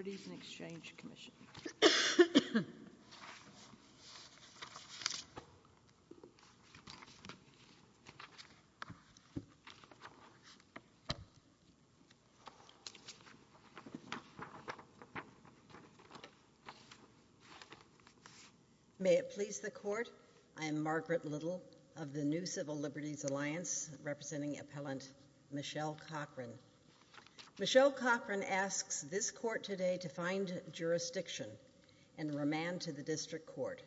May it please the Court, I am Margaret Little of the New Civil Liberties Alliance, representing Appellant Michelle Cochran. Michelle Cochran asks this Court today to find jurisdiction and remand to the District Court.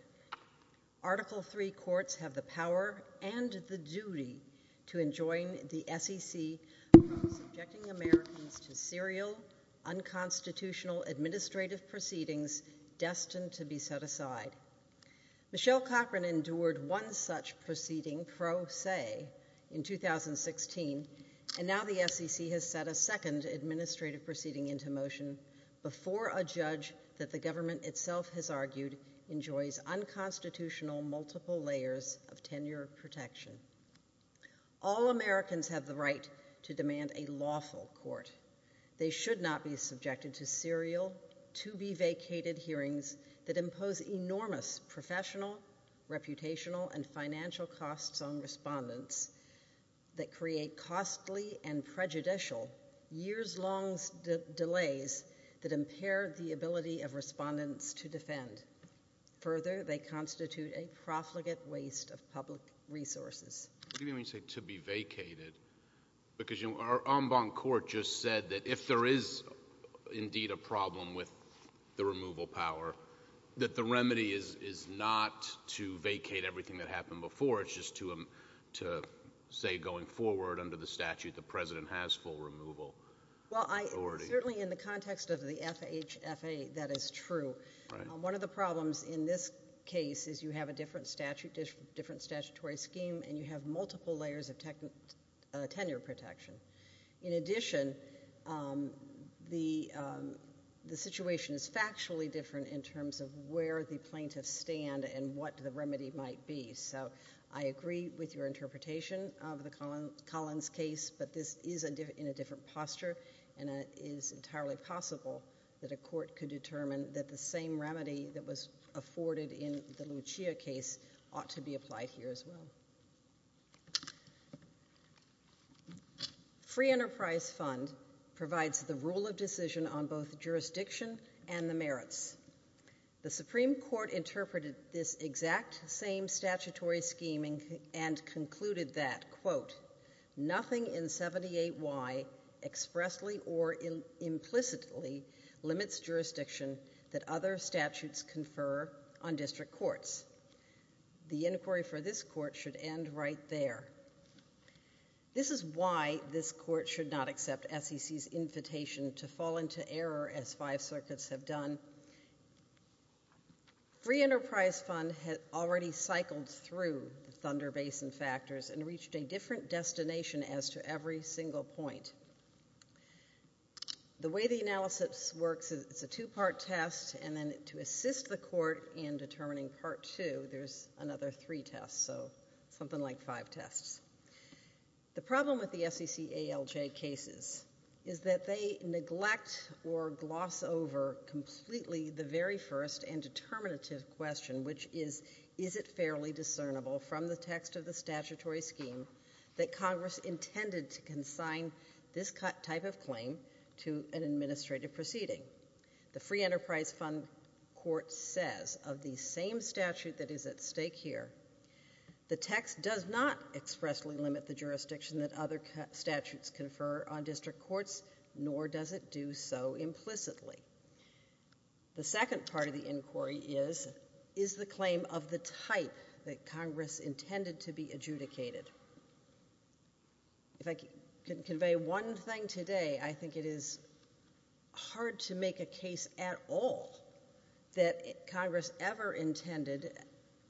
Article III courts have the power and the duty to enjoin the SEC from subjecting Americans to serial, unconstitutional administrative proceedings destined to be set aside. Michelle Cochran endured one such proceeding, pro se, in 2016, and now the SEC has set a second administrative proceeding into motion before a judge that the government itself has argued enjoys unconstitutional multiple layers of tenure protection. All Americans have the right to demand a lawful court. They should not be subjected to serial, to-be-vacated hearings that impose enormous professional, reputational, and financial costs on respondents that create costly and prejudicial years-long delays that impair the ability of respondents to defend. Further, they constitute a profligate waste of public resources. Let me say to-be-vacated because our en banc court just said that if there is indeed a problem with the removal power, that the remedy is, is not to vacate everything that happened before, it's just to, to say going forward under the statute, the President has full removal authority. Well, I, certainly in the context of the FHFA, that is true. Right. One of the problems in this case is you have a different statute, different statutory scheme, and you have multiple layers of tech, uh, tenure protection. In addition, um, the, um, the situation is factually different in terms of where the plaintiffs stand and what the remedy might be. So I agree with your interpretation of the Collins case, but this is a, in a different posture and it is entirely possible that a court could determine that the same remedy that was afforded in the Lucia case ought to be applied here as well. Free Enterprise Fund provides the rule of decision on both jurisdiction and the merits. The Supreme Court interpreted this exact same statutory scheming and concluded that, quote, merits confer on district courts. The inquiry for this court should end right there. This is why this court should not accept SEC's invitation to fall into error as five circuits have done. Free Enterprise Fund had already cycled through the Thunder Basin factors and reached a different destination as to every single point. The way the analysis works is it's a two-part test and then to assist the court in determining part two, there's another three tests, so something like five tests. The problem with the SEC ALJ cases is that they neglect or gloss over completely the very first and determinative question, which is, is it fairly discernible from the text of the statutory scheme that this type of claim to an administrative proceeding? The Free Enterprise Fund court says of the same statute that is at stake here, the text does not expressly limit the jurisdiction that other statutes confer on district courts, nor does it do so implicitly. The second part of the inquiry is, is the claim of the type that Congress intended to be adjudicated? If I can convey one thing today, I think it is hard to make a case at all that Congress ever intended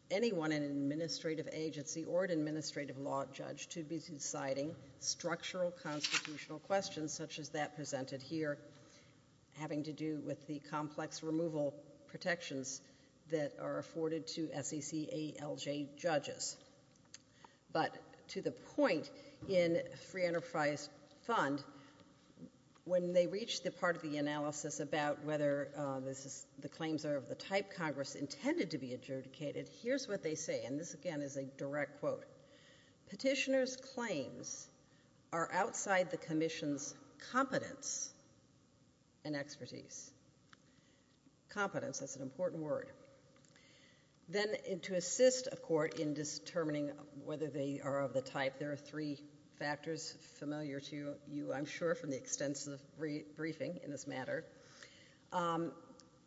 anyone in an administrative agency or an administrative law judge to be deciding structural constitutional questions such as that presented here, having to do with the complex removal protections that are afforded to SEC ALJ judges. But to the point in Free Enterprise Fund, when they reach the part of the analysis about whether the claims are of the type Congress intended to be adjudicated, here's what they say, and this again is a direct quote. Petitioner's claims are outside the Commission's competence and expertise. Competence, that's an important word. Then to assist a court in determining whether they are of the type, there are three factors familiar to you, I'm sure, from the extensive briefing in this matter.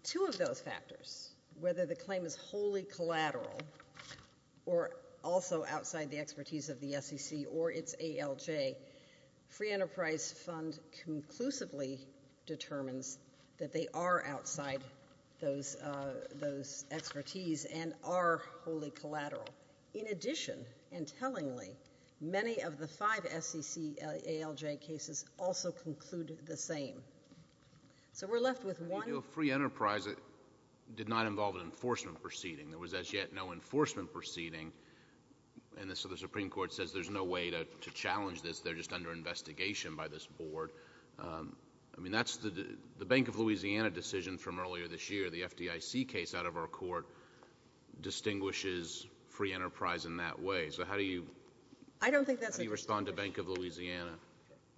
Two of those factors, whether the claim is wholly collateral or also outside the expertise of the SEC or its ALJ, Free Enterprise Fund conclusively determines that they are outside those, uh, those expertise and are wholly collateral. In addition, and tellingly, many of the five SEC ALJ cases also conclude the same. So we're left with one... The review of Free Enterprise did not involve an enforcement proceeding. There was as yet no enforcement proceeding, and so the Supreme Court says there's no way to challenge this, they're just under investigation by this Board. Um, I mean, that's the, the Bank of Louisiana decision from earlier this year, the FDIC case out of our court distinguishes Free Enterprise in that way. So how do you... I don't think that's a... How do you respond to Bank of Louisiana?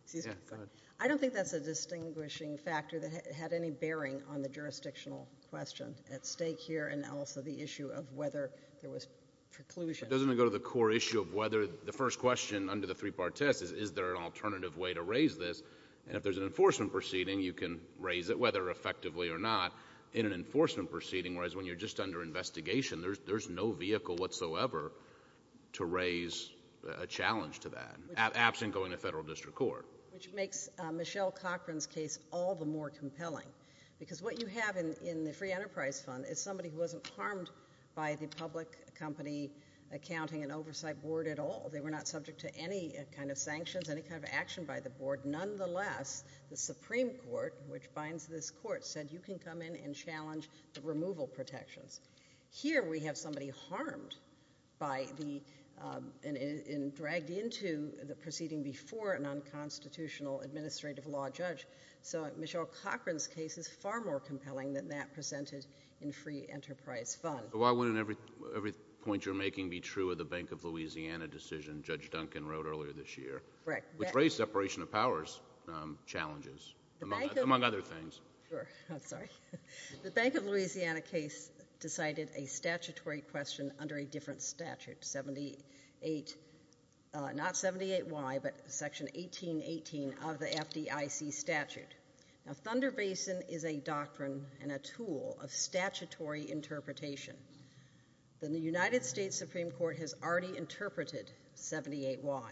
Excuse me. Yeah, go ahead. I don't think that's a distinguishing factor that had any bearing on the jurisdictional question at stake here and also the issue of whether there was preclusion... Doesn't it go to the core issue of whether the first question under the three-part test is, is there an alternative way to raise this? And if there's an enforcement proceeding, you can raise it, whether effectively or not, in an enforcement proceeding, whereas when you're just under investigation, there's, there's no vehicle whatsoever to raise a challenge to that, absent going to federal district court. Which makes Michelle Cochran's case all the more compelling, because what you have in, in the Free Enterprise Fund is somebody who wasn't harmed by the public company accounting and oversight board at all. They were not subject to any kind of sanctions, any kind of action by the board. Nonetheless, the Supreme Court, which binds this court, said you can come in and challenge the removal protections. Here, we have somebody harmed by the, um, and, and dragged into the proceeding before a non-constitutional administrative law judge. So Michelle Cochran's case is far more compelling than that presented in Free Enterprise Fund. But why wouldn't every, every point you're making be true of the Bank of Louisiana decision Judge Duncan wrote earlier this year, which raised separation of powers, um, challenges, among other things? Sure. I'm sorry. The Bank of Louisiana case decided a statutory question under a different statute, 78, uh, not 78Y, but Section 1818 of the FDIC statute. Now, Thunder Basin is a doctrine and a tool of statutory interpretation. The, the United States Supreme Court has already interpreted 78Y.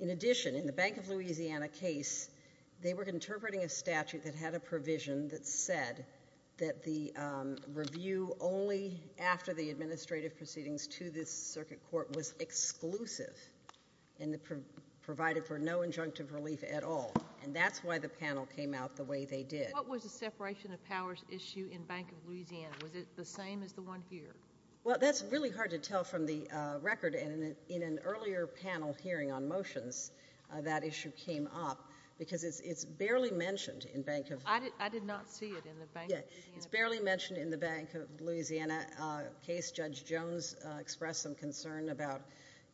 In addition, in the Bank of Louisiana case, they were interpreting a statute that had a provision that said that the, um, review only after the administrative proceedings to this circuit court was exclusive and the, provided for no injunctive relief at all. And that's why the panel came out the way they did. What was the separation of powers issue in Bank of Louisiana? Was it the same as the one here? Well, that's really hard to tell from the, uh, record. And in an earlier panel hearing on motions, uh, that issue came up because it's, it's barely mentioned in Bank of Louisiana. I did, I did not see it in the Bank of Louisiana. Yeah. It's barely mentioned in the Bank of Louisiana, uh, case. Judge Jones, uh, expressed some concern about,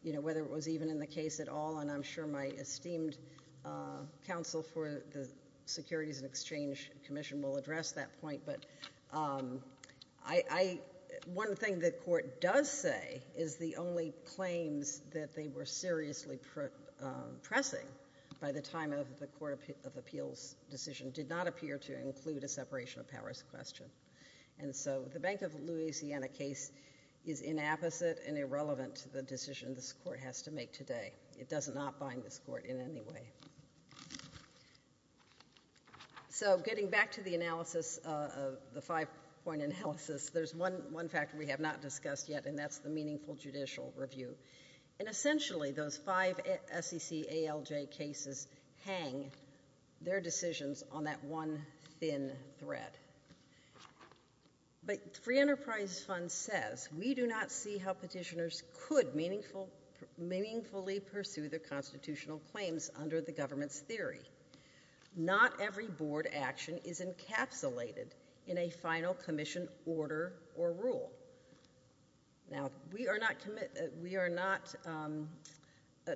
you know, whether it was even in the case at all. And I'm sure my esteemed, uh, counsel for the Securities and Exchange Commission will address that point. But, um, I, I, one thing the court does say is the only claims that they were seriously, uh, pressing by the time of the Court of Appeals decision did not appear to include a separation of powers question. And so the Bank of Louisiana case is inapposite and irrelevant to the decision this court has to make today. It does not bind this court in any way. So getting back to the analysis, uh, of the five-point analysis, there's one, one factor we have not discussed yet, and that's the meaningful judicial review. And essentially, those five S-E-C-A-L-J cases hang their decisions on that one thin thread. But the Free Enterprise Fund says, we do not see how petitioners could meaningful, meaningfully pursue their constitutional claims under the government's theory. Not every board action is encapsulated in a final commission order or rule. Now, we are not, we are not, um,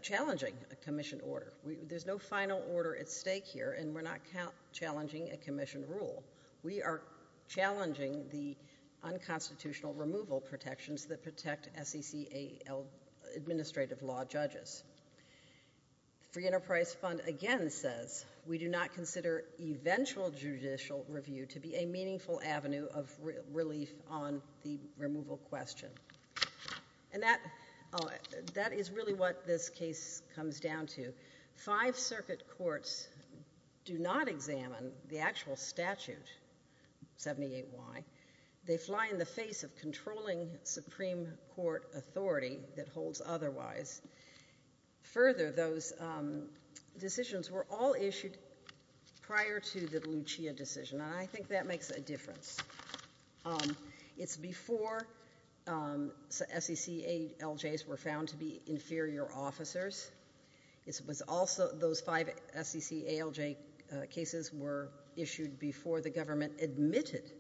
challenging a commission order. We, there's no final order at stake here, and we're not challenging a constitutional removal protections that protect S-E-C-A-L, administrative law judges. Free Enterprise Fund again says, we do not consider eventual judicial review to be a meaningful avenue of re, relief on the removal question. And that, uh, that is really what this case comes down to. Five circuit courts do not examine the actual statute, 78Y. They fly in the face of controlling Supreme Court authority that holds otherwise. Further, those, um, decisions were all issued prior to the Lucia decision, and I think that makes a difference. Um, it's before, um, S-E-C-A-L-Js were found to be inferior officers. It was also, those five S-E-C-A-L-J, uh, cases were issued before the government admitted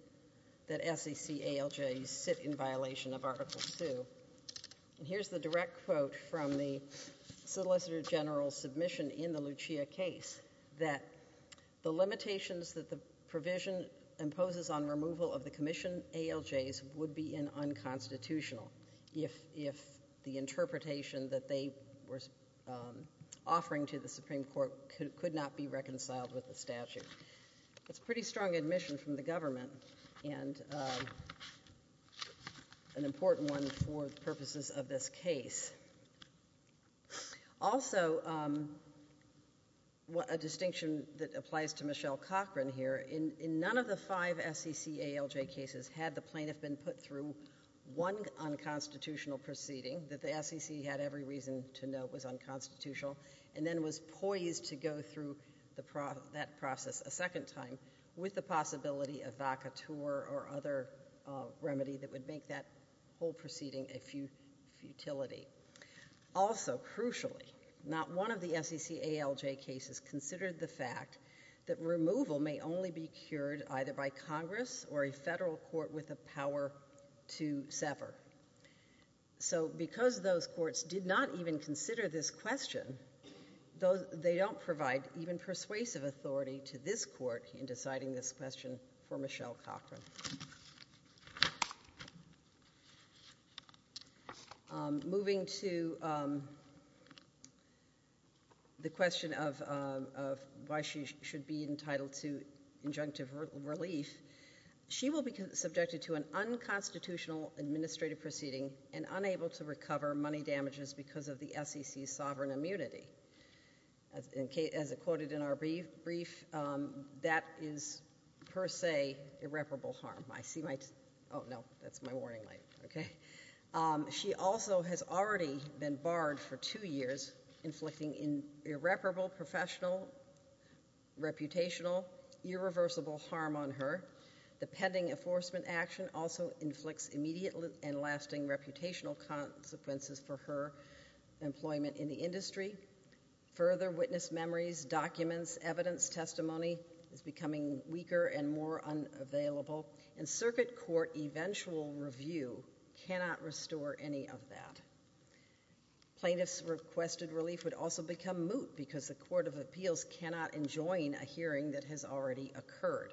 that S-E-C-A-L-Js sit in violation of Article II. And here's the direct quote from the Solicitor General's submission in the Lucia case, that the limitations that the provision imposes on removal of the commission A-L-Js would be unconstitutional if, if the interpretation that they were, um, offering to the Supreme Court could not be reconciled with the statute. That's pretty strong admission from the government, and, um, an important one for purposes of this case. Also, um, a distinction that applies to Michelle Cochran here, in, in none of the five S-E-C-A-L-J cases had the plaintiff been put through one unconstitutional proceeding that the S-E-C had every reason to know was unconstitutional, and then was poised to go through the pro, that process a second time with the possibility of vaca tour or other, uh, remedy that would make that whole proceeding a fut, futility. Also, crucially, not one of the S-E-C-A-L-J cases considered the fact that removal may only be cured either by Congress or a federal court with the power to sever. So, because those courts did not even consider this question, those, they don't provide even persuasive authority to this court in deciding this question for Michelle Cochran. Um, moving to, um, the question of, um, of why she should be entitled to injunctive relief, she will be subjected to an unconstitutional administrative proceeding and unable to recover money damages because of the S-E-C's sovereign immunity. As, as it quoted in our brief, brief, um, that is, per se, irreparable harm. I see my, oh, no, that's my warning light. Okay. Um, she also has already been barred for two years inflicting irreparable professional, reputational, irreversible harm on her. The pending enforcement action also inflicts immediate and lasting reputational consequences for her employment in the industry. Further witness memories, documents, evidence, testimony is becoming weaker and more unavailable, and circuit court eventual review cannot restore any of that. Plaintiffs requested relief would also become moot because the court of appeals cannot enjoin a hearing that has already occurred.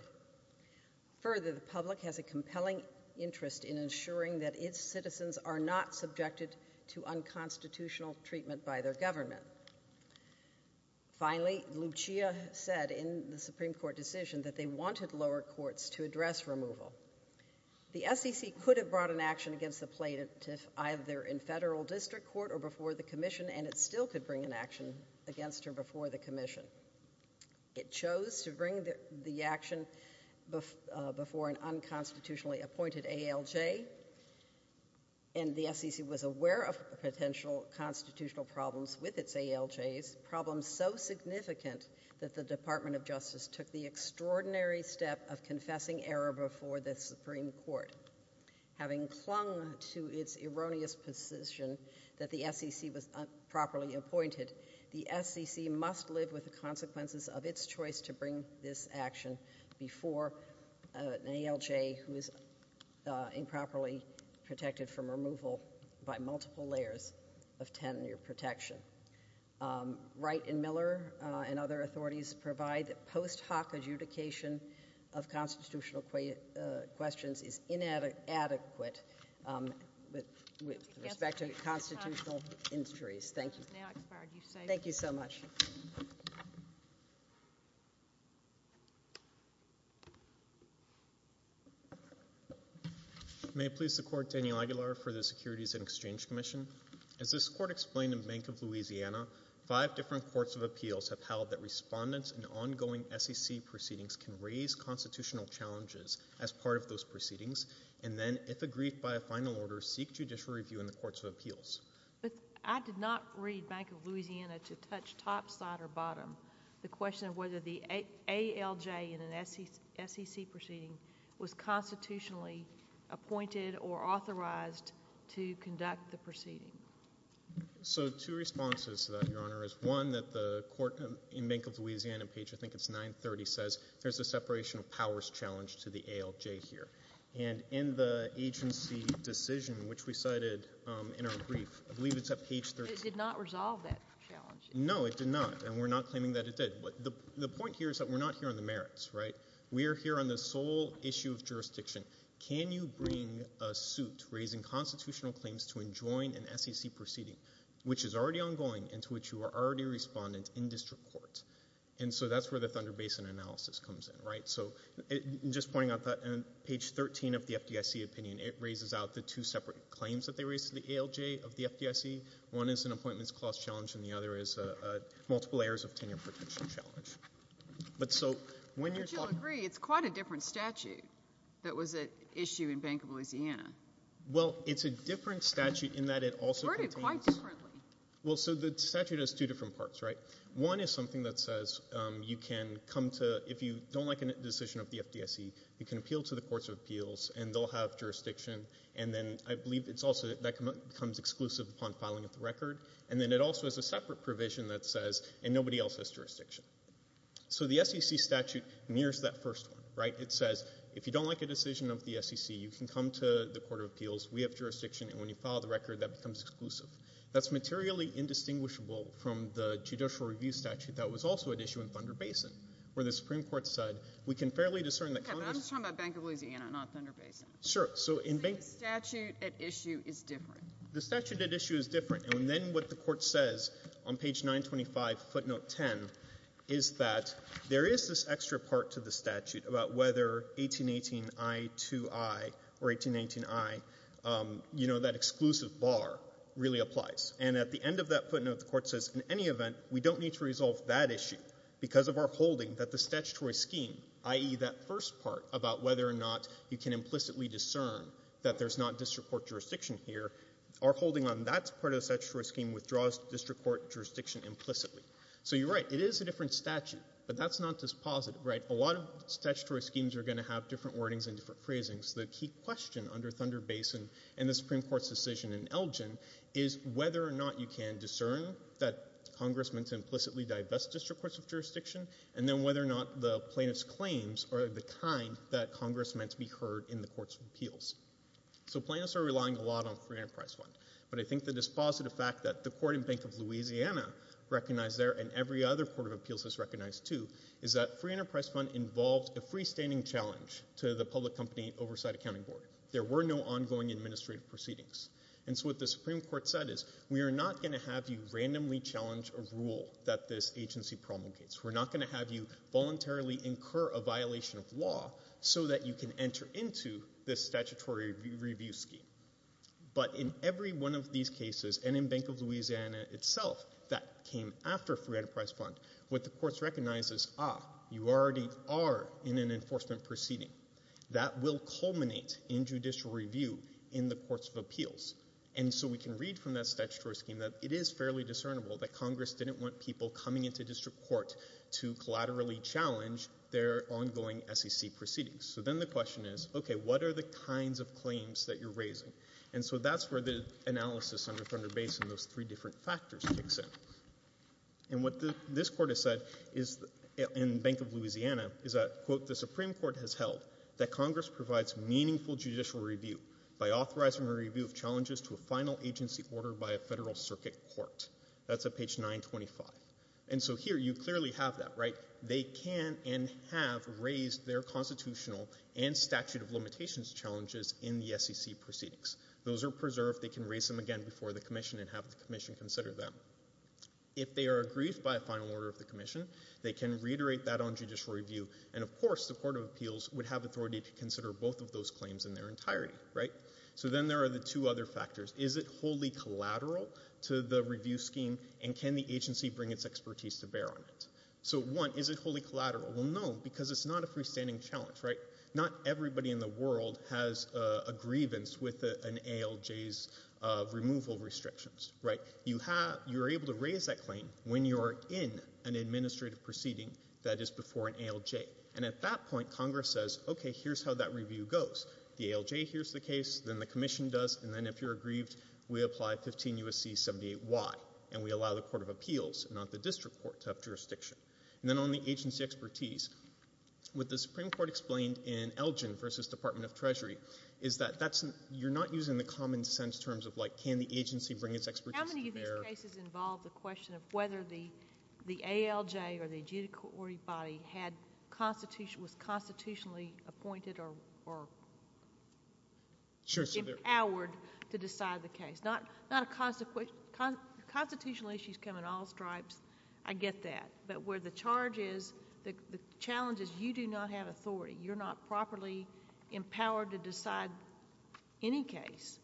Further, the public has a compelling interest in ensuring that its citizens are not subjected to unconstitutional treatment by their government. Finally, Lucia said in the Supreme Court decision that they wanted lower courts to address removal. The Supreme Court has not yet decided whether to bring an action against her before the commission. It chose to bring the action before an unconstitutionally appointed ALJ, and the S-E-C was aware of potential constitutional problems with its ALJs, problems so significant that the Department of Justice took the extraordinary step of confessing error before the Supreme Court. Having clung to its erroneous position that the S-E-C was improperly appointed, the S-E-C must live with the consequences of its choice to bring this action before an ALJ who is improperly protected from removal by multiple layers of tenure protection. Wright and Miller and other authorities provide post hoc adjudication of constitutional questions is inadequate with respect to constitutional injuries. Thank you. Thank you so much. May it please the Court, Daniel Aguilar for the Securities and Exchange Commission. As this Court explained in Bank of Louisiana, five different courts of appeals have held that respondents in ongoing S-E-C proceedings can raise constitutional challenges as part of those proceedings, and then, if agreed by a final order, seek judicial review in the courts of appeals. But I did not read Bank of Louisiana to touch topside or bottom the question of whether the ALJ in an S-E-C proceeding was constitutionally appointed or authorized to conduct the proceeding. So two responses to that, Your Honor, is one, that the court in Bank of Louisiana page, I think it's 930, says there's a separation of powers challenge to the ALJ here. And in the agency decision, which we cited in our brief, I believe it's at page 13. It did not resolve that challenge. No, it did not, and we're not claiming that it did. But the point here is that we're not here on the merits, right? We are here on the sole issue of jurisdiction. Can you bring a suit raising constitutional claims to enjoin an S-E-C proceeding, which is already ongoing and to which you are already a respondent in district court? And so that's where the Thunder Basin analysis comes in, right? So just pointing out that on page 13 of the FDIC opinion, it raises out the two separate claims that they raised to the ALJ of the FDIC. One is an appointments clause challenge, and the other is a multiple errors of tenure protection challenge. But so when you're talking— But you'll agree it's quite a different statute that was at issue in Bank of Louisiana. Well, it's a different statute in that it also contains— Worded quite differently. Well, so the statute has two different parts, right? One is something that says you can come to—if you don't like a decision of the FDIC, you can appeal to the courts of appeals, and they'll have jurisdiction. And then I believe it's also—that comes exclusive upon filing of the record. And then it also has a separate provision that says, and nobody else has jurisdiction. So the S-E-C statute mirrors that first one, right? It says if you don't like a decision of the S-E-C, you can come to the court of appeals. We have jurisdiction. And when you file the record, that becomes exclusive. That's materially indistinguishable from the judicial review statute that was also at issue in Thunder Basin, where the Supreme Court said, we can fairly discern that Congress— Okay, but I'm just talking about Bank of Louisiana, not Thunder Basin. Sure. So in Bank— See, the statute at issue is different. The statute at issue is different. And then what the Court says on page 925, footnote 10, is that there is this extra part to the statute about whether 1818 I, 2I, or 1819 I, you know, that exclusive bar really applies. And at the end of that footnote, the Court says, in any event, we don't need to resolve that issue because of our holding that the statutory scheme, i.e. that first part about whether or not you can implicitly discern that there's not district court jurisdiction here, our holding on that part of the statutory scheme withdraws district court jurisdiction implicitly. So you're right, it is a different statute, but that's not dispositive, right? A lot of statutory schemes are going to have different wordings and different phrasings. The key question under Thunder Basin and the Congress meant to implicitly divest district courts of jurisdiction, and then whether or not the plaintiff's claims are the kind that Congress meant to be heard in the court's appeals. So plaintiffs are relying a lot on free enterprise fund. But I think the dispositive fact that the court in Bank of Louisiana recognized there, and every other court of appeals has recognized too, is that free enterprise fund involved a freestanding challenge to the public company oversight accounting board. There were no ongoing administrative proceedings. And so what the Supreme Court said is, we are not going to have you randomly challenge a rule that this agency promulgates. We're not going to have you voluntarily incur a violation of law so that you can enter into this statutory review scheme. But in every one of these cases, and in Bank of Louisiana itself that came after free enterprise fund, what the courts recognized is, ah, you already are in an enforcement proceeding. That will be the case. And so we can read from that statutory scheme that it is fairly discernible that Congress didn't want people coming into district court to collaterally challenge their ongoing SEC proceedings. So then the question is, okay, what are the kinds of claims that you're raising? And so that's where the analysis under Thunder Basin, those three different factors kicks in. And what this court has said is, in Bank of Louisiana, is that, quote, the Supreme Court has held that Congress provides meaningful judicial review by authorizing a review of challenges to a final agency order by a federal circuit court. That's at page 925. And so here, you clearly have that, right? They can and have raised their constitutional and statute of limitations challenges in the SEC proceedings. Those are preserved. They can raise them again before the commission and have the commission consider them. If they are aggrieved by a final order of the commission, they can reiterate that on judicial review. And of course, the Court of Appeals would have authority to consider both of those things. So then there are the two other factors. Is it wholly collateral to the review scheme, and can the agency bring its expertise to bear on it? So one, is it wholly collateral? Well, no, because it's not a freestanding challenge, right? Not everybody in the world has a grievance with an ALJ's removal restrictions, right? You have, you're able to raise that claim when you're in an administrative proceeding that is before an ALJ. And at that point, Congress says, okay, here's how that review goes. The ALJ hears the case, then the commission does, and then if you're aggrieved, we apply 15 U.S.C. 78-Y, and we allow the Court of Appeals, not the district court, to have jurisdiction. And then on the agency expertise, what the Supreme Court explained in Elgin v. Department of Treasury is that that's, you're not using the common sense terms of like, can the agency bring its expertise to bear? How many of these cases involve the question of whether the ALJ or the adjudicatory body had constitution, was constitutionally appointed or empowered to decide the case? Not a, constitutional issues come in all stripes, I get that. But where the charge is, the challenge is, you do not have authority. You're not properly empowered to decide any case.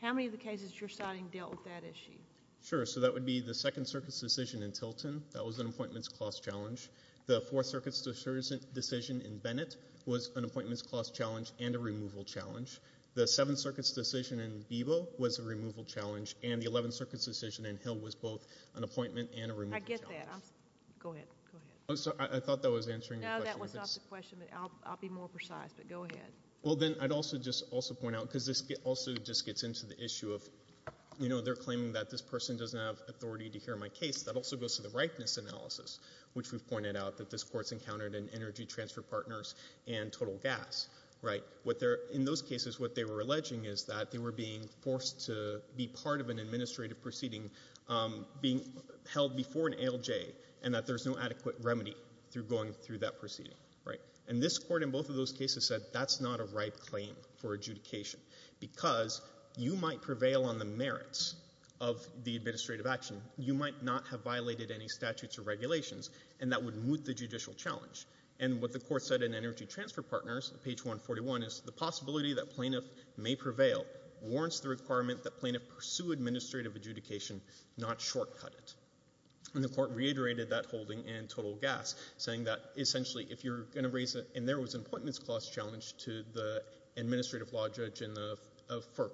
How many of the cases you're citing dealt with that issue? Sure. So that would be the Second Circuit's decision in Tilton. That was an appointments clause challenge. The Fourth Circuit's decision in Bennett was an appointments clause challenge and a removal challenge. The Seventh Circuit's decision in Bebo was a removal challenge, and the Eleventh Circuit's decision in Hill was both an appointment and a removal challenge. I get that. Go ahead. Go ahead. I'm sorry, I thought that was answering the question. No, that was not the question, but I'll be more precise, but go ahead. Well, then, I'd also just, also point out, because this also just gets into the issue of, you know, they're claiming that this person doesn't have authority to hear my case. That also goes to the ripeness analysis, which we've pointed out that this court's encountered in Energy Transfer Partners and Total Gas, right? In those cases, what they were alleging is that they were being forced to be part of an administrative proceeding, being held before an ALJ, and that there's no adequate remedy through going through that proceeding, right? And this court, in both of those cases, said that's not a ripe claim for adjudication because you might prevail on the merits of the administrative action. You might not have violated any statutes or regulations, and that would moot the judicial challenge. And what the court said in Energy Transfer Partners, page 141, is the possibility that plaintiff may prevail warrants the requirement that plaintiff pursue administrative adjudication, not shortcut it. And the court reiterated that holding in Total Gas, saying that, essentially, if you're going to raise a, and there was an appointments clause challenge to the administrative law judge in the FERC,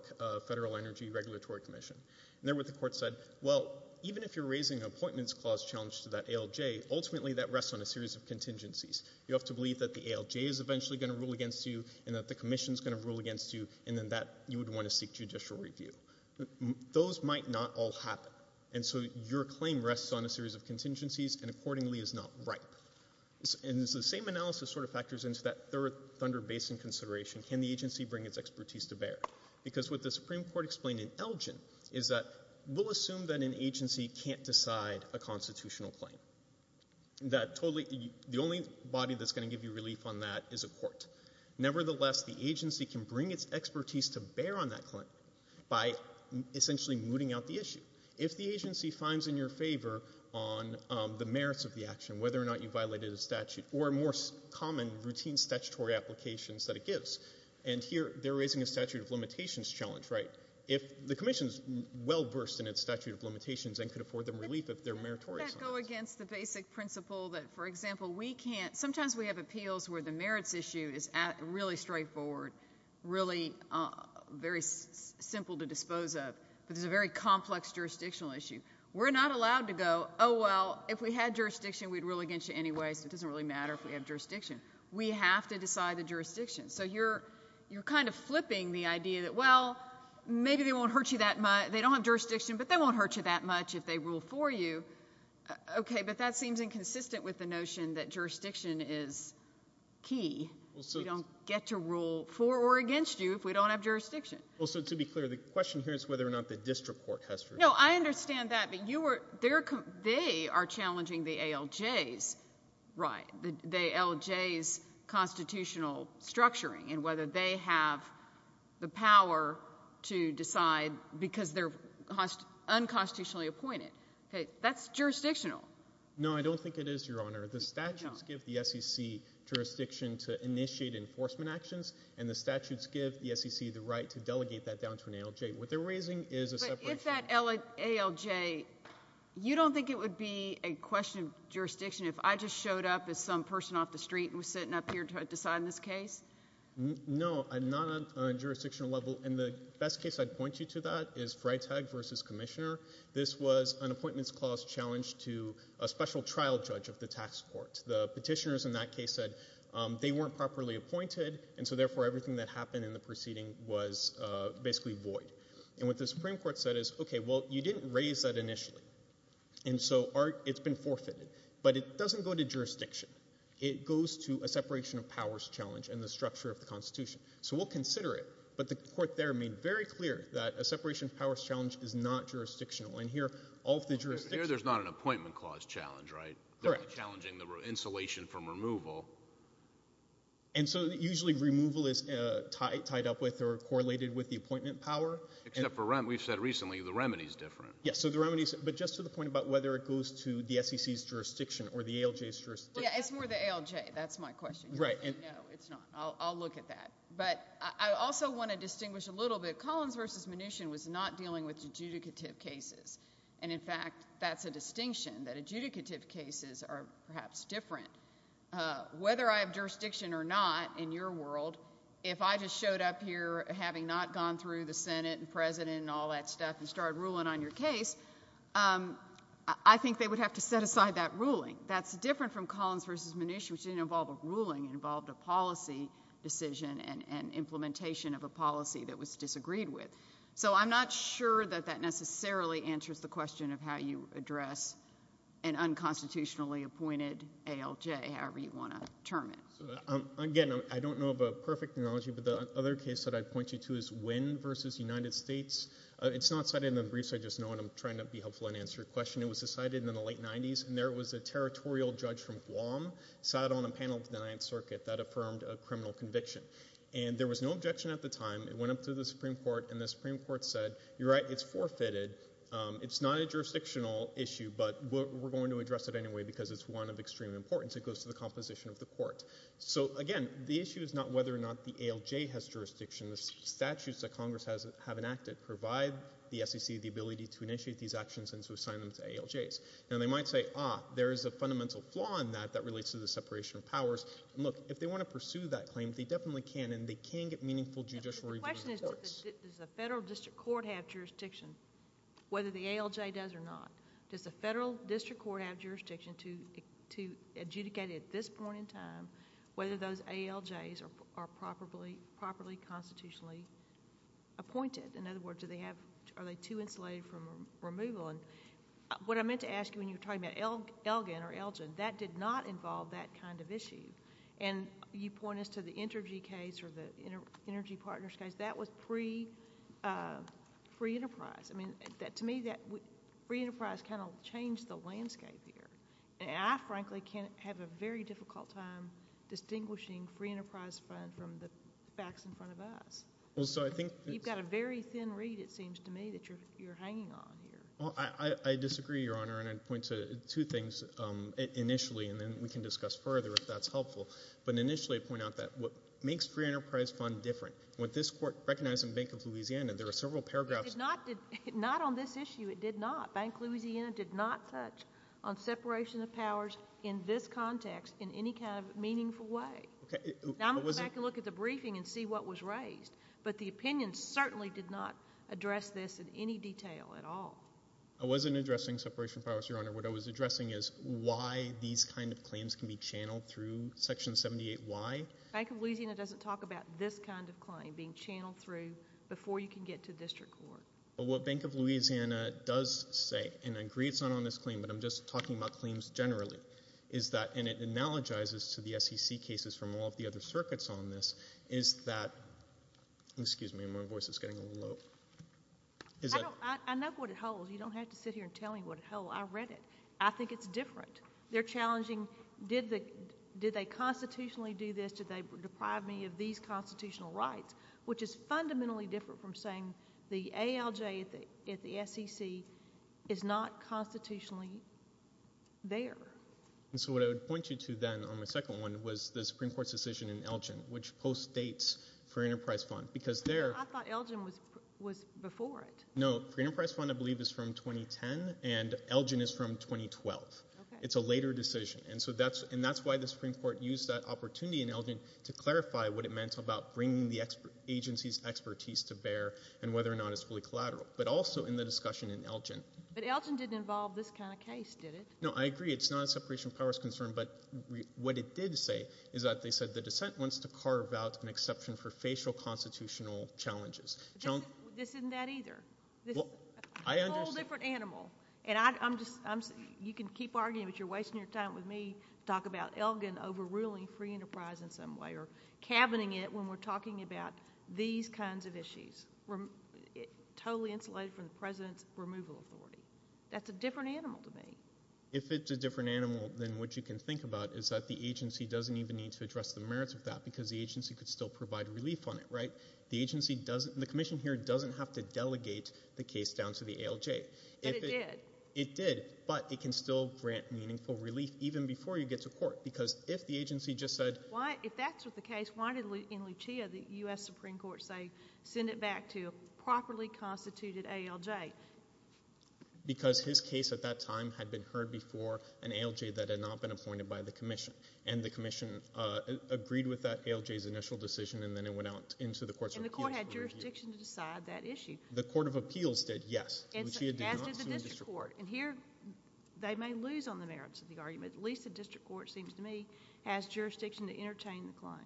Federal Energy Regulatory Commission. And there, what the court said, well, even if you're raising an appointments clause challenge to that ALJ, ultimately, that rests on a series of contingencies. You have to believe that the ALJ is eventually going to rule against you, and that the commission's going to rule against you, and then that, you would want to seek judicial review. Those might not all happen. And so your claim rests on a series of contingencies and, accordingly, is not ripe. And so the same analysis sort of factors into that third Thunder Basin consideration. Can the agency bring its expertise to bear? Because what the Supreme Court explained in Elgin is that we'll assume that an agency can't decide a constitutional claim. That totally, the only body that's going to give you relief on that is a court. Nevertheless, the agency can bring its expertise to bear on that claim by, essentially, mooting out the issue. If the agency finds in your favor on the merits of the action, whether or not you violated a statute, or more common, routine statutory applications that it gives. And here, they're raising a statute of limitations challenge, right? If the commission's well-versed in its statute of limitations and could afford them relief if they're meritorious on that. Can that go against the basic principle that, for example, we can't, sometimes we have appeals where the merits issue is really straightforward, really very simple to dispose of, but it's a very complex jurisdictional issue. We're not allowed to go, oh, well, if we had jurisdiction we'd rule against you anyway, so it doesn't really matter if we have jurisdiction. We have to decide the jurisdiction. So you're kind of flipping the idea that, well, maybe they won't hurt you that much, they don't have jurisdiction, but they won't hurt you that much if they rule for you. Okay, but that seems inconsistent with the notion that jurisdiction is key. We don't get to rule for or against you if we don't have jurisdiction. Well, so to be clear, the question here is whether or not the district court has jurisdiction. You know, I understand that, but they are challenging the ALJ's constitutional structuring and whether they have the power to decide because they're unconstitutionally appointed. That's jurisdictional. No, I don't think it is, Your Honor. The statutes give the SEC jurisdiction to initiate enforcement actions and the statutes give the SEC the right to delegate that down to an ALJ. What they're raising is a separation. With that ALJ, you don't think it would be a question of jurisdiction if I just showed up as some person off the street and was sitting up here to decide on this case? No, not on a jurisdictional level. And the best case I'd point you to that is Freytag v. Commissioner. This was an appointments clause challenge to a special trial judge of the tax court. The petitioners in that case said they weren't properly appointed, and so therefore everything that happened in the proceeding was basically void. And what the Supreme Court said is, okay, well, you didn't raise that initially, and so it's been forfeited. But it doesn't go to jurisdiction. It goes to a separation of powers challenge and the structure of the Constitution. So we'll consider it, but the court there made very clear that a separation of powers challenge is not jurisdictional. And here, all of the jurisdiction— Here there's not an appointment clause challenge, right? Correct. They're challenging the insulation from removal. And so usually removal is tied up with or correlated with the appointment power. Except for—we've said recently the remedy is different. Yes, so the remedy is—but just to the point about whether it goes to the SEC's jurisdiction or the ALJ's jurisdiction. Yeah, it's more the ALJ. That's my question. Right. No, it's not. I'll look at that. But I also want to distinguish a little bit. Collins v. Mnuchin was not dealing with adjudicative cases. And in fact, that's a distinction, that adjudicative cases are perhaps different. Whether I have jurisdiction or not, in your world, if I just showed up here having not gone through the Senate and President and all that stuff and started ruling on your case, I think they would have to set aside that ruling. That's different from Collins v. Mnuchin, which didn't involve a ruling. It involved a policy decision and implementation of a policy that was disagreed with. So I'm not sure that that necessarily answers the question of how you address an unconstitutionally appointed ALJ, however you want to term it. Again, I don't know of a perfect analogy, but the other case that I'd point you to is Wynn v. United States. It's not cited in the briefs, I just know, and I'm trying to be helpful and answer your question. It was decided in the late 90s, and there was a territorial judge from Guam, sat on a panel at the Ninth Circuit that affirmed a criminal conviction. And there was no objection at the time. It went up to the Supreme Court, and the Supreme Court said, you're right, it's forfeited. It's not a jurisdictional issue, but we're going to address it anyway because it's one of extreme importance. It goes to the composition of the court. So again, the issue is not whether or not the ALJ has jurisdiction. The statutes that Congress has enacted provide the SEC the ability to initiate these actions and to assign them to ALJs. Now they might say, ah, there is a fundamental flaw in that that relates to the separation of powers. Look, if they want to pursue that claim, they definitely can, and they can get meaningful judicial review in the courts. The question is, does the federal district court have jurisdiction, whether the ALJ does or not? Does the federal district court have jurisdiction to adjudicate at this point in time whether those ALJs are properly constitutionally appointed? In other words, are they too insulated from removal? What I meant to ask you when you were talking about Elgin or Elgin, that did not involve that kind of issue. And you point us to the Energy case or the Energy case. That is a different case. And I have to say, I'm a little concerned about that. I mean, I think that the free enterprise kind of changed the landscape here. And I frankly can't have a very difficult time distinguishing free enterprise fund from the facts in front of us. Well, so I think that's You've got a very thin read, it seems to me, that you're hanging on here. Well, I disagree, Your Honor, and I'd point to two things initially, and then we can discuss further if that's helpful. But initially, I'd point out that what makes free enterprise fund different, what this court recognized in Bank of Louisiana, there are several paragraphs Not on this issue, it did not. Bank of Louisiana did not touch on separation of powers in this context in any kind of meaningful way. Now, I'm going to go back and look at the briefing and see what was raised. But the opinion certainly did not address this in any detail at all. I wasn't addressing separation of powers, Your Honor. What I was addressing is why these kind of claims can be channeled through Section 78. Why? Bank of Louisiana doesn't talk about this kind of claim being channeled through before you can get to district court. What Bank of Louisiana does say, and I agree it's not on this claim, but I'm just talking about claims generally, is that, and it analogizes to the SEC cases from all of the other circuits on this, is that, excuse me, my voice is getting a little low, is that I know what it holds. You don't have to sit here and tell me what it holds. I read it. I think it's different. They're challenging, did they constitutionally do this? Did they deprive me of these constitutional rights, which is fundamentally different from saying the ALJ at the SEC is not constitutionally there. And so what I would point you to then on my second one was the Supreme Court's decision in Elgin, which postdates Free Enterprise Fund, because there I thought Elgin was before it. No. Free Enterprise Fund, I believe, is from 2010, and Elgin is from 2012. Okay. It's a later decision. And so that's, and that's why the Supreme Court used that opportunity in Elgin to clarify what it meant about bringing the agency's expertise to bear and whether or not it's fully collateral, but also in the discussion in Elgin. But Elgin didn't involve this kind of case, did it? No, I agree. It's not a separation of powers concern, but what it did say is that they said the dissent wants to carve out an exception for facial constitutional challenges. This isn't that either. Well, I understand. This is a whole different animal. And I'm just, I'm, you can keep arguing, but you're cabining it when we're talking about these kinds of issues, totally insulated from the President's removal authority. That's a different animal to me. If it's a different animal, then what you can think about is that the agency doesn't even need to address the merits of that, because the agency could still provide relief on it, right? The agency doesn't, the commission here doesn't have to delegate the case down to the ALJ. But it did. It did, but it can still grant meaningful relief even before you get to court, because if the agency just said... Why, if that's what the case, why did, in Lucia, the U.S. Supreme Court say, send it back to a properly constituted ALJ? Because his case at that time had been heard before an ALJ that had not been appointed by the commission, and the commission agreed with that ALJ's initial decision, and then it went out into the courts of appeals... And the court had jurisdiction to decide that issue. The court of appeals did, yes. And so, as did the district court. Lucia did not sue the district court. And here, they may lose on the merits of the argument. At least the district court seems to me, has jurisdiction to entertain the claim.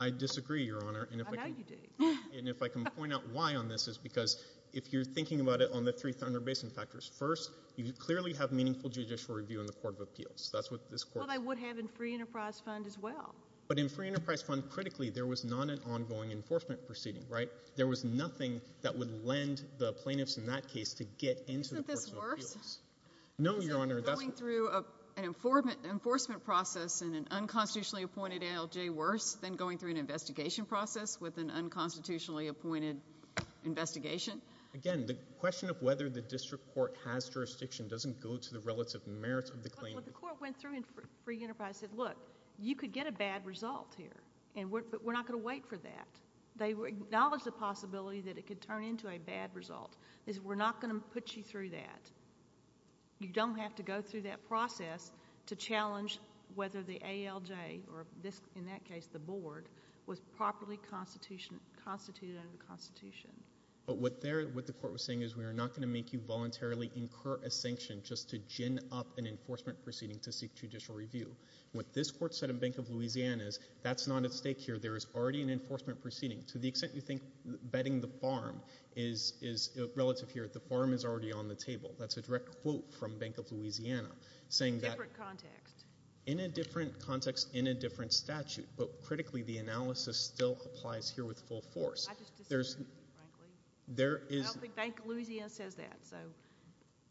I disagree, Your Honor. I know you do. And if I can point out why on this is because if you're thinking about it on the three Thunder Basin factors, first, you clearly have meaningful judicial review in the court of appeals. That's what this court... Well, they would have in free enterprise fund as well. But in free enterprise fund, critically, there was not an ongoing enforcement proceeding, right? There was nothing that would lend the plaintiffs in that case to get into the courts of appeals. Isn't this worse? No, Your Honor, that's... Isn't the process in an unconstitutionally appointed ALJ worse than going through an investigation process with an unconstitutionally appointed investigation? Again, the question of whether the district court has jurisdiction doesn't go to the relative merits of the claim. But what the court went through in free enterprise said, look, you could get a bad result here. And we're not going to wait for that. They acknowledged the possibility that it could turn into a bad result. They said, we're not going to put you through that. You don't have to go through that process to challenge whether the ALJ, or in that case, the board, was properly constituted under the Constitution. But what the court was saying is, we are not going to make you voluntarily incur a sanction just to gin up an enforcement proceeding to seek judicial review. What this court said in Bank of Louisiana is, that's not at stake here. There is already an enforcement proceeding. To the extent you think betting the farm is relative here, the farm is already on the land in Louisiana. In a different context. In a different context, in a different statute. But critically, the analysis still applies here with full force. I just disagree, frankly. There is... I don't think Bank of Louisiana says that.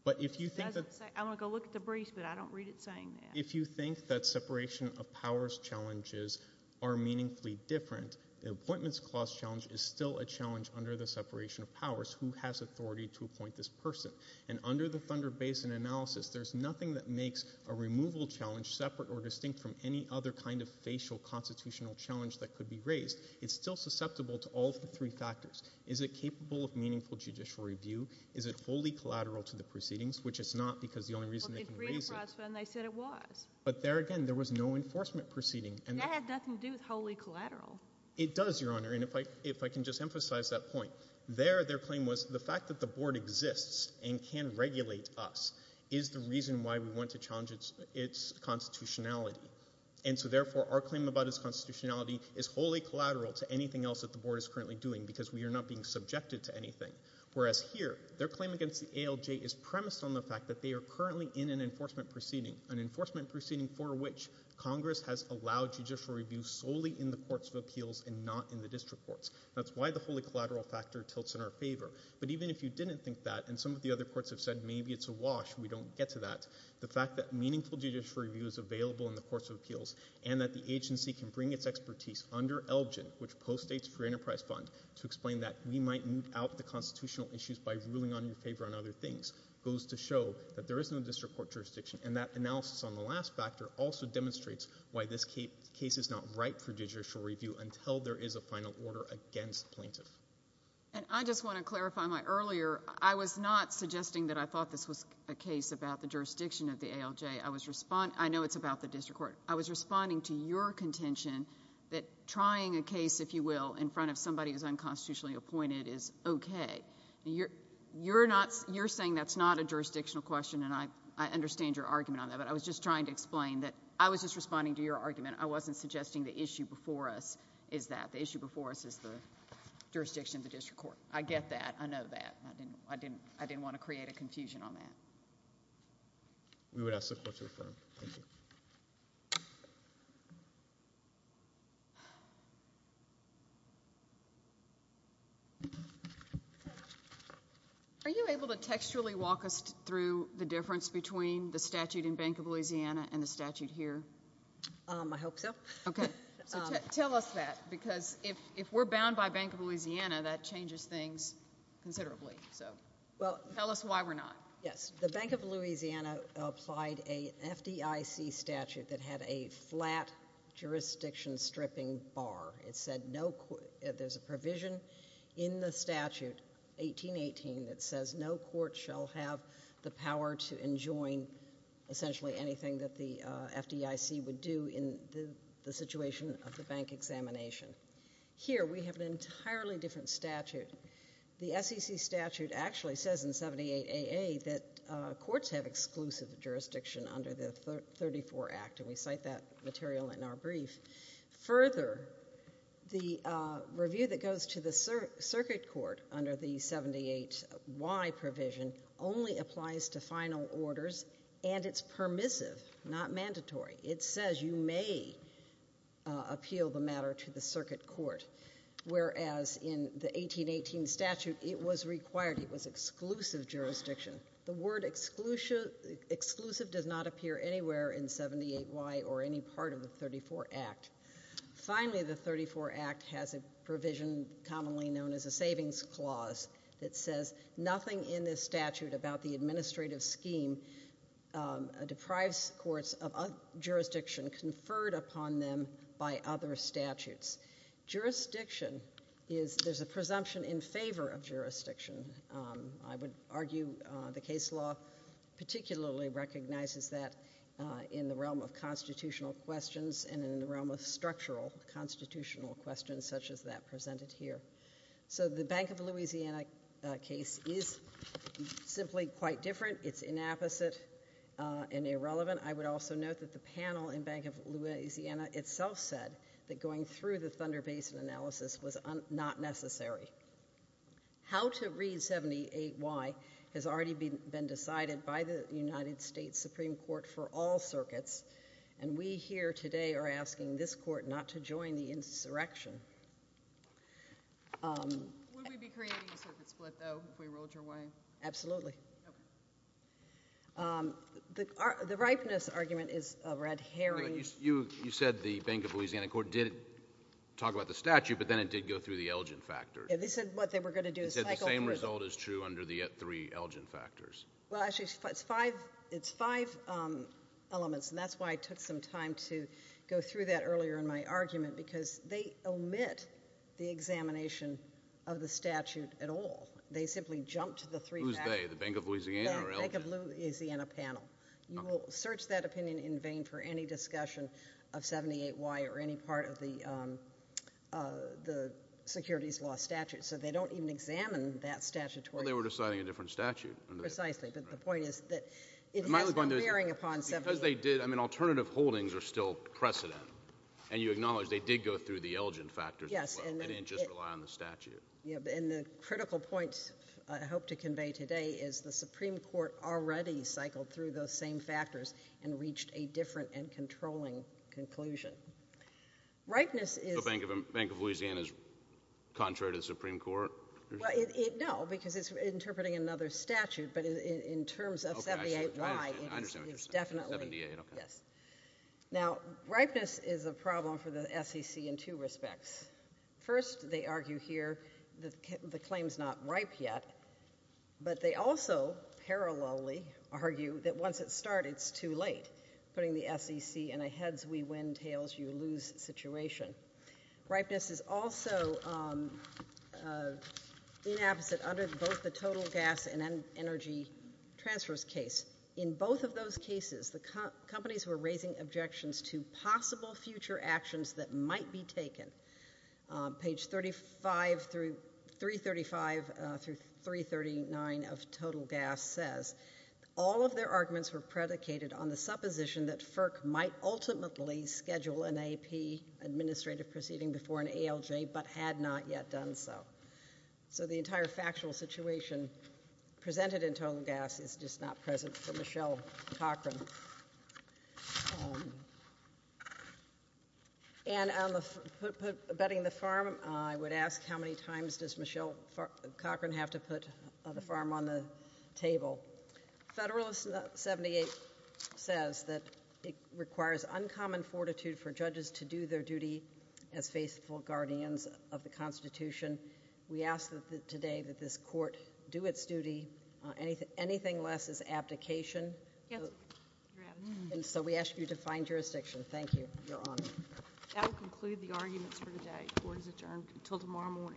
But if you think that... I'm going to go look at the briefs, but I don't read it saying that. If you think that separation of powers challenges are meaningfully different, the appointments clause challenge is still a challenge under the separation of powers. Who has authority to appoint this person? And under the Thunder Basin analysis, there's nothing that makes a removal challenge separate or distinct from any other kind of facial constitutional challenge that could be raised. It's still susceptible to all of the three factors. Is it capable of meaningful judicial review? Is it wholly collateral to the proceedings, which it's not because the only reason they can raise it... Well, they agreed upon it, and they said it was. But there again, there was no enforcement proceeding, and... That had nothing to do with wholly collateral. It does, Your Honor, and if I can just emphasize that point. There, their claim was the fact that the Board exists and can regulate us is the reason why we want to challenge its constitutionality. And so therefore, our claim about its constitutionality is wholly collateral to anything else that the Board is currently doing, because we are not being subjected to anything. Whereas here, their claim against the ALJ is premised on the fact that they are currently in an enforcement proceeding, an enforcement proceeding for which Congress has allowed judicial review solely in the courts of appeals and not in the district courts. That's why the wholly collateral factor tilts in our favor. But even if you didn't think that, and some of the other courts have said, maybe it's a wash, we don't get to that, the fact that meaningful judicial review is available in the courts of appeals, and that the agency can bring its expertise under ELGIN, which postdates free enterprise fund, to explain that we might moot out the constitutional issues by ruling on your favor on other things, goes to show that there is no district court jurisdiction. And that analysis on the last factor also demonstrates why this case is not ripe for judicial review until there is a final order against the plaintiff. And I just want to clarify my earlier, I was not suggesting that I thought this was a case about the jurisdiction of the ALJ. I know it's about the district court. I was responding to your contention that trying a case, if you will, in front of somebody who is unconstitutionally appointed is okay. You're saying that's not a jurisdictional question, and I understand your argument on that, but I was just trying to explain that I was just responding to your argument. I wasn't suggesting the issue before us is that. It's about the jurisdiction of the district court. I get that. I know that. I didn't want to create a confusion on that. We would ask the court to affirm. Thank you. Are you able to textually walk us through the difference between the statute in Bank of Louisiana and the statute here? I hope so. Okay. So tell us that, because if we're bound by Bank of Louisiana, that changes things considerably. So tell us why we're not. Yes. The Bank of Louisiana applied a FDIC statute that had a flat jurisdiction stripping bar. It said there's a provision in the statute, 1818, that says no court shall have the power to enjoin essentially anything that the FDIC would do in the situation of the bank examination. Here we have an entirely different statute. The SEC statute actually says in 78AA that courts have exclusive jurisdiction under the 34 Act, and we cite that material in our brief. Further, the review that goes to the circuit court under the 78Y provision only applies to final orders, and it's permissive, not mandatory. It says you may appeal the matter to the circuit court, whereas in the 1818 statute, it was required. It was exclusive jurisdiction. The word exclusive does not appear anywhere in 78Y or any part of the 34 Act. Finally, the 34 Act has a provision commonly known as a savings clause that says nothing in this statute about the administrative scheme deprives courts of jurisdiction conferred upon them by other statutes. Jurisdiction is there's a presumption in favor of jurisdiction. I would argue the case law particularly recognizes that in the realm of constitutional questions and in the realm of structural constitutional questions such as that presented here. So the Bank of Louisiana case is simply quite different. It's inapposite and irrelevant. I would also note that the panel in Bank of Louisiana itself said that going through the Thunder Basin analysis was not necessary. How to read 78Y has already been decided by the United States Supreme Court for all circuits, and we here today are asking this court not to join the insurrection. Would we be creating a circuit split, though, if we rolled your way? Absolutely. Okay. The ripeness argument is a red herring. You said the Bank of Louisiana court did talk about the statute, but then it did go through the Elgin factor. Yeah, they said what they were going to do is cycle through the— They said the same result is true under the three Elgin factors. Well, actually, it's five elements, and that's why it took some time to go through that earlier in my argument, because they omit the examination of the statute at all. They simply jumped to the three factors. Who's they? The Bank of Louisiana or Elgin? The Bank of Louisiana panel. You will search that opinion in vain for any discussion of 78Y or any part of the securities law statute, so they don't even examine that statutory— Well, they were deciding a different statute. Precisely, but the point is that it has no bearing upon 78Y. But because they did—I mean, alternative holdings are still precedent, and you acknowledge they did go through the Elgin factors as well. Yes, and— They didn't just rely on the statute. Yeah, and the critical point I hope to convey today is the Supreme Court already cycled through those same factors and reached a different and controlling conclusion. Ripeness is— The Bank of Louisiana is contrary to the Supreme Court? Well, no, because it's interpreting another statute, but in terms of 78Y— Okay, I see. I understand what you're saying. Definitely. 78, okay. Yes. Now, ripeness is a problem for the SEC in two respects. First, they argue here that the claim's not ripe yet, but they also parallelly argue that once it's started, it's too late, putting the SEC in a heads-we-win-tails-you-lose situation. Ripeness is also inapposite under both the total gas and energy transfers case. In both of those cases, the companies were raising objections to possible future actions that might be taken. Page 35 through—335 through 339 of total gas says, all of their arguments were predicated on the supposition that FERC might ultimately schedule an AP administrative proceeding before an ALJ but had not yet done so. So the entire factual situation presented in total gas is just not present for Michelle Cochran. And on the betting the farm, I would ask how many times does Michelle Cochran have to put the farm on the table? Federalist 78 says that it requires uncommon fortitude for judges to do their duty as faithful guardians of the Constitution. We ask that today that this court do its duty. Anything less is abdication. And so we ask you to find jurisdiction. Thank you. You're on. That will conclude the arguments for today. Court is adjourned until tomorrow morning.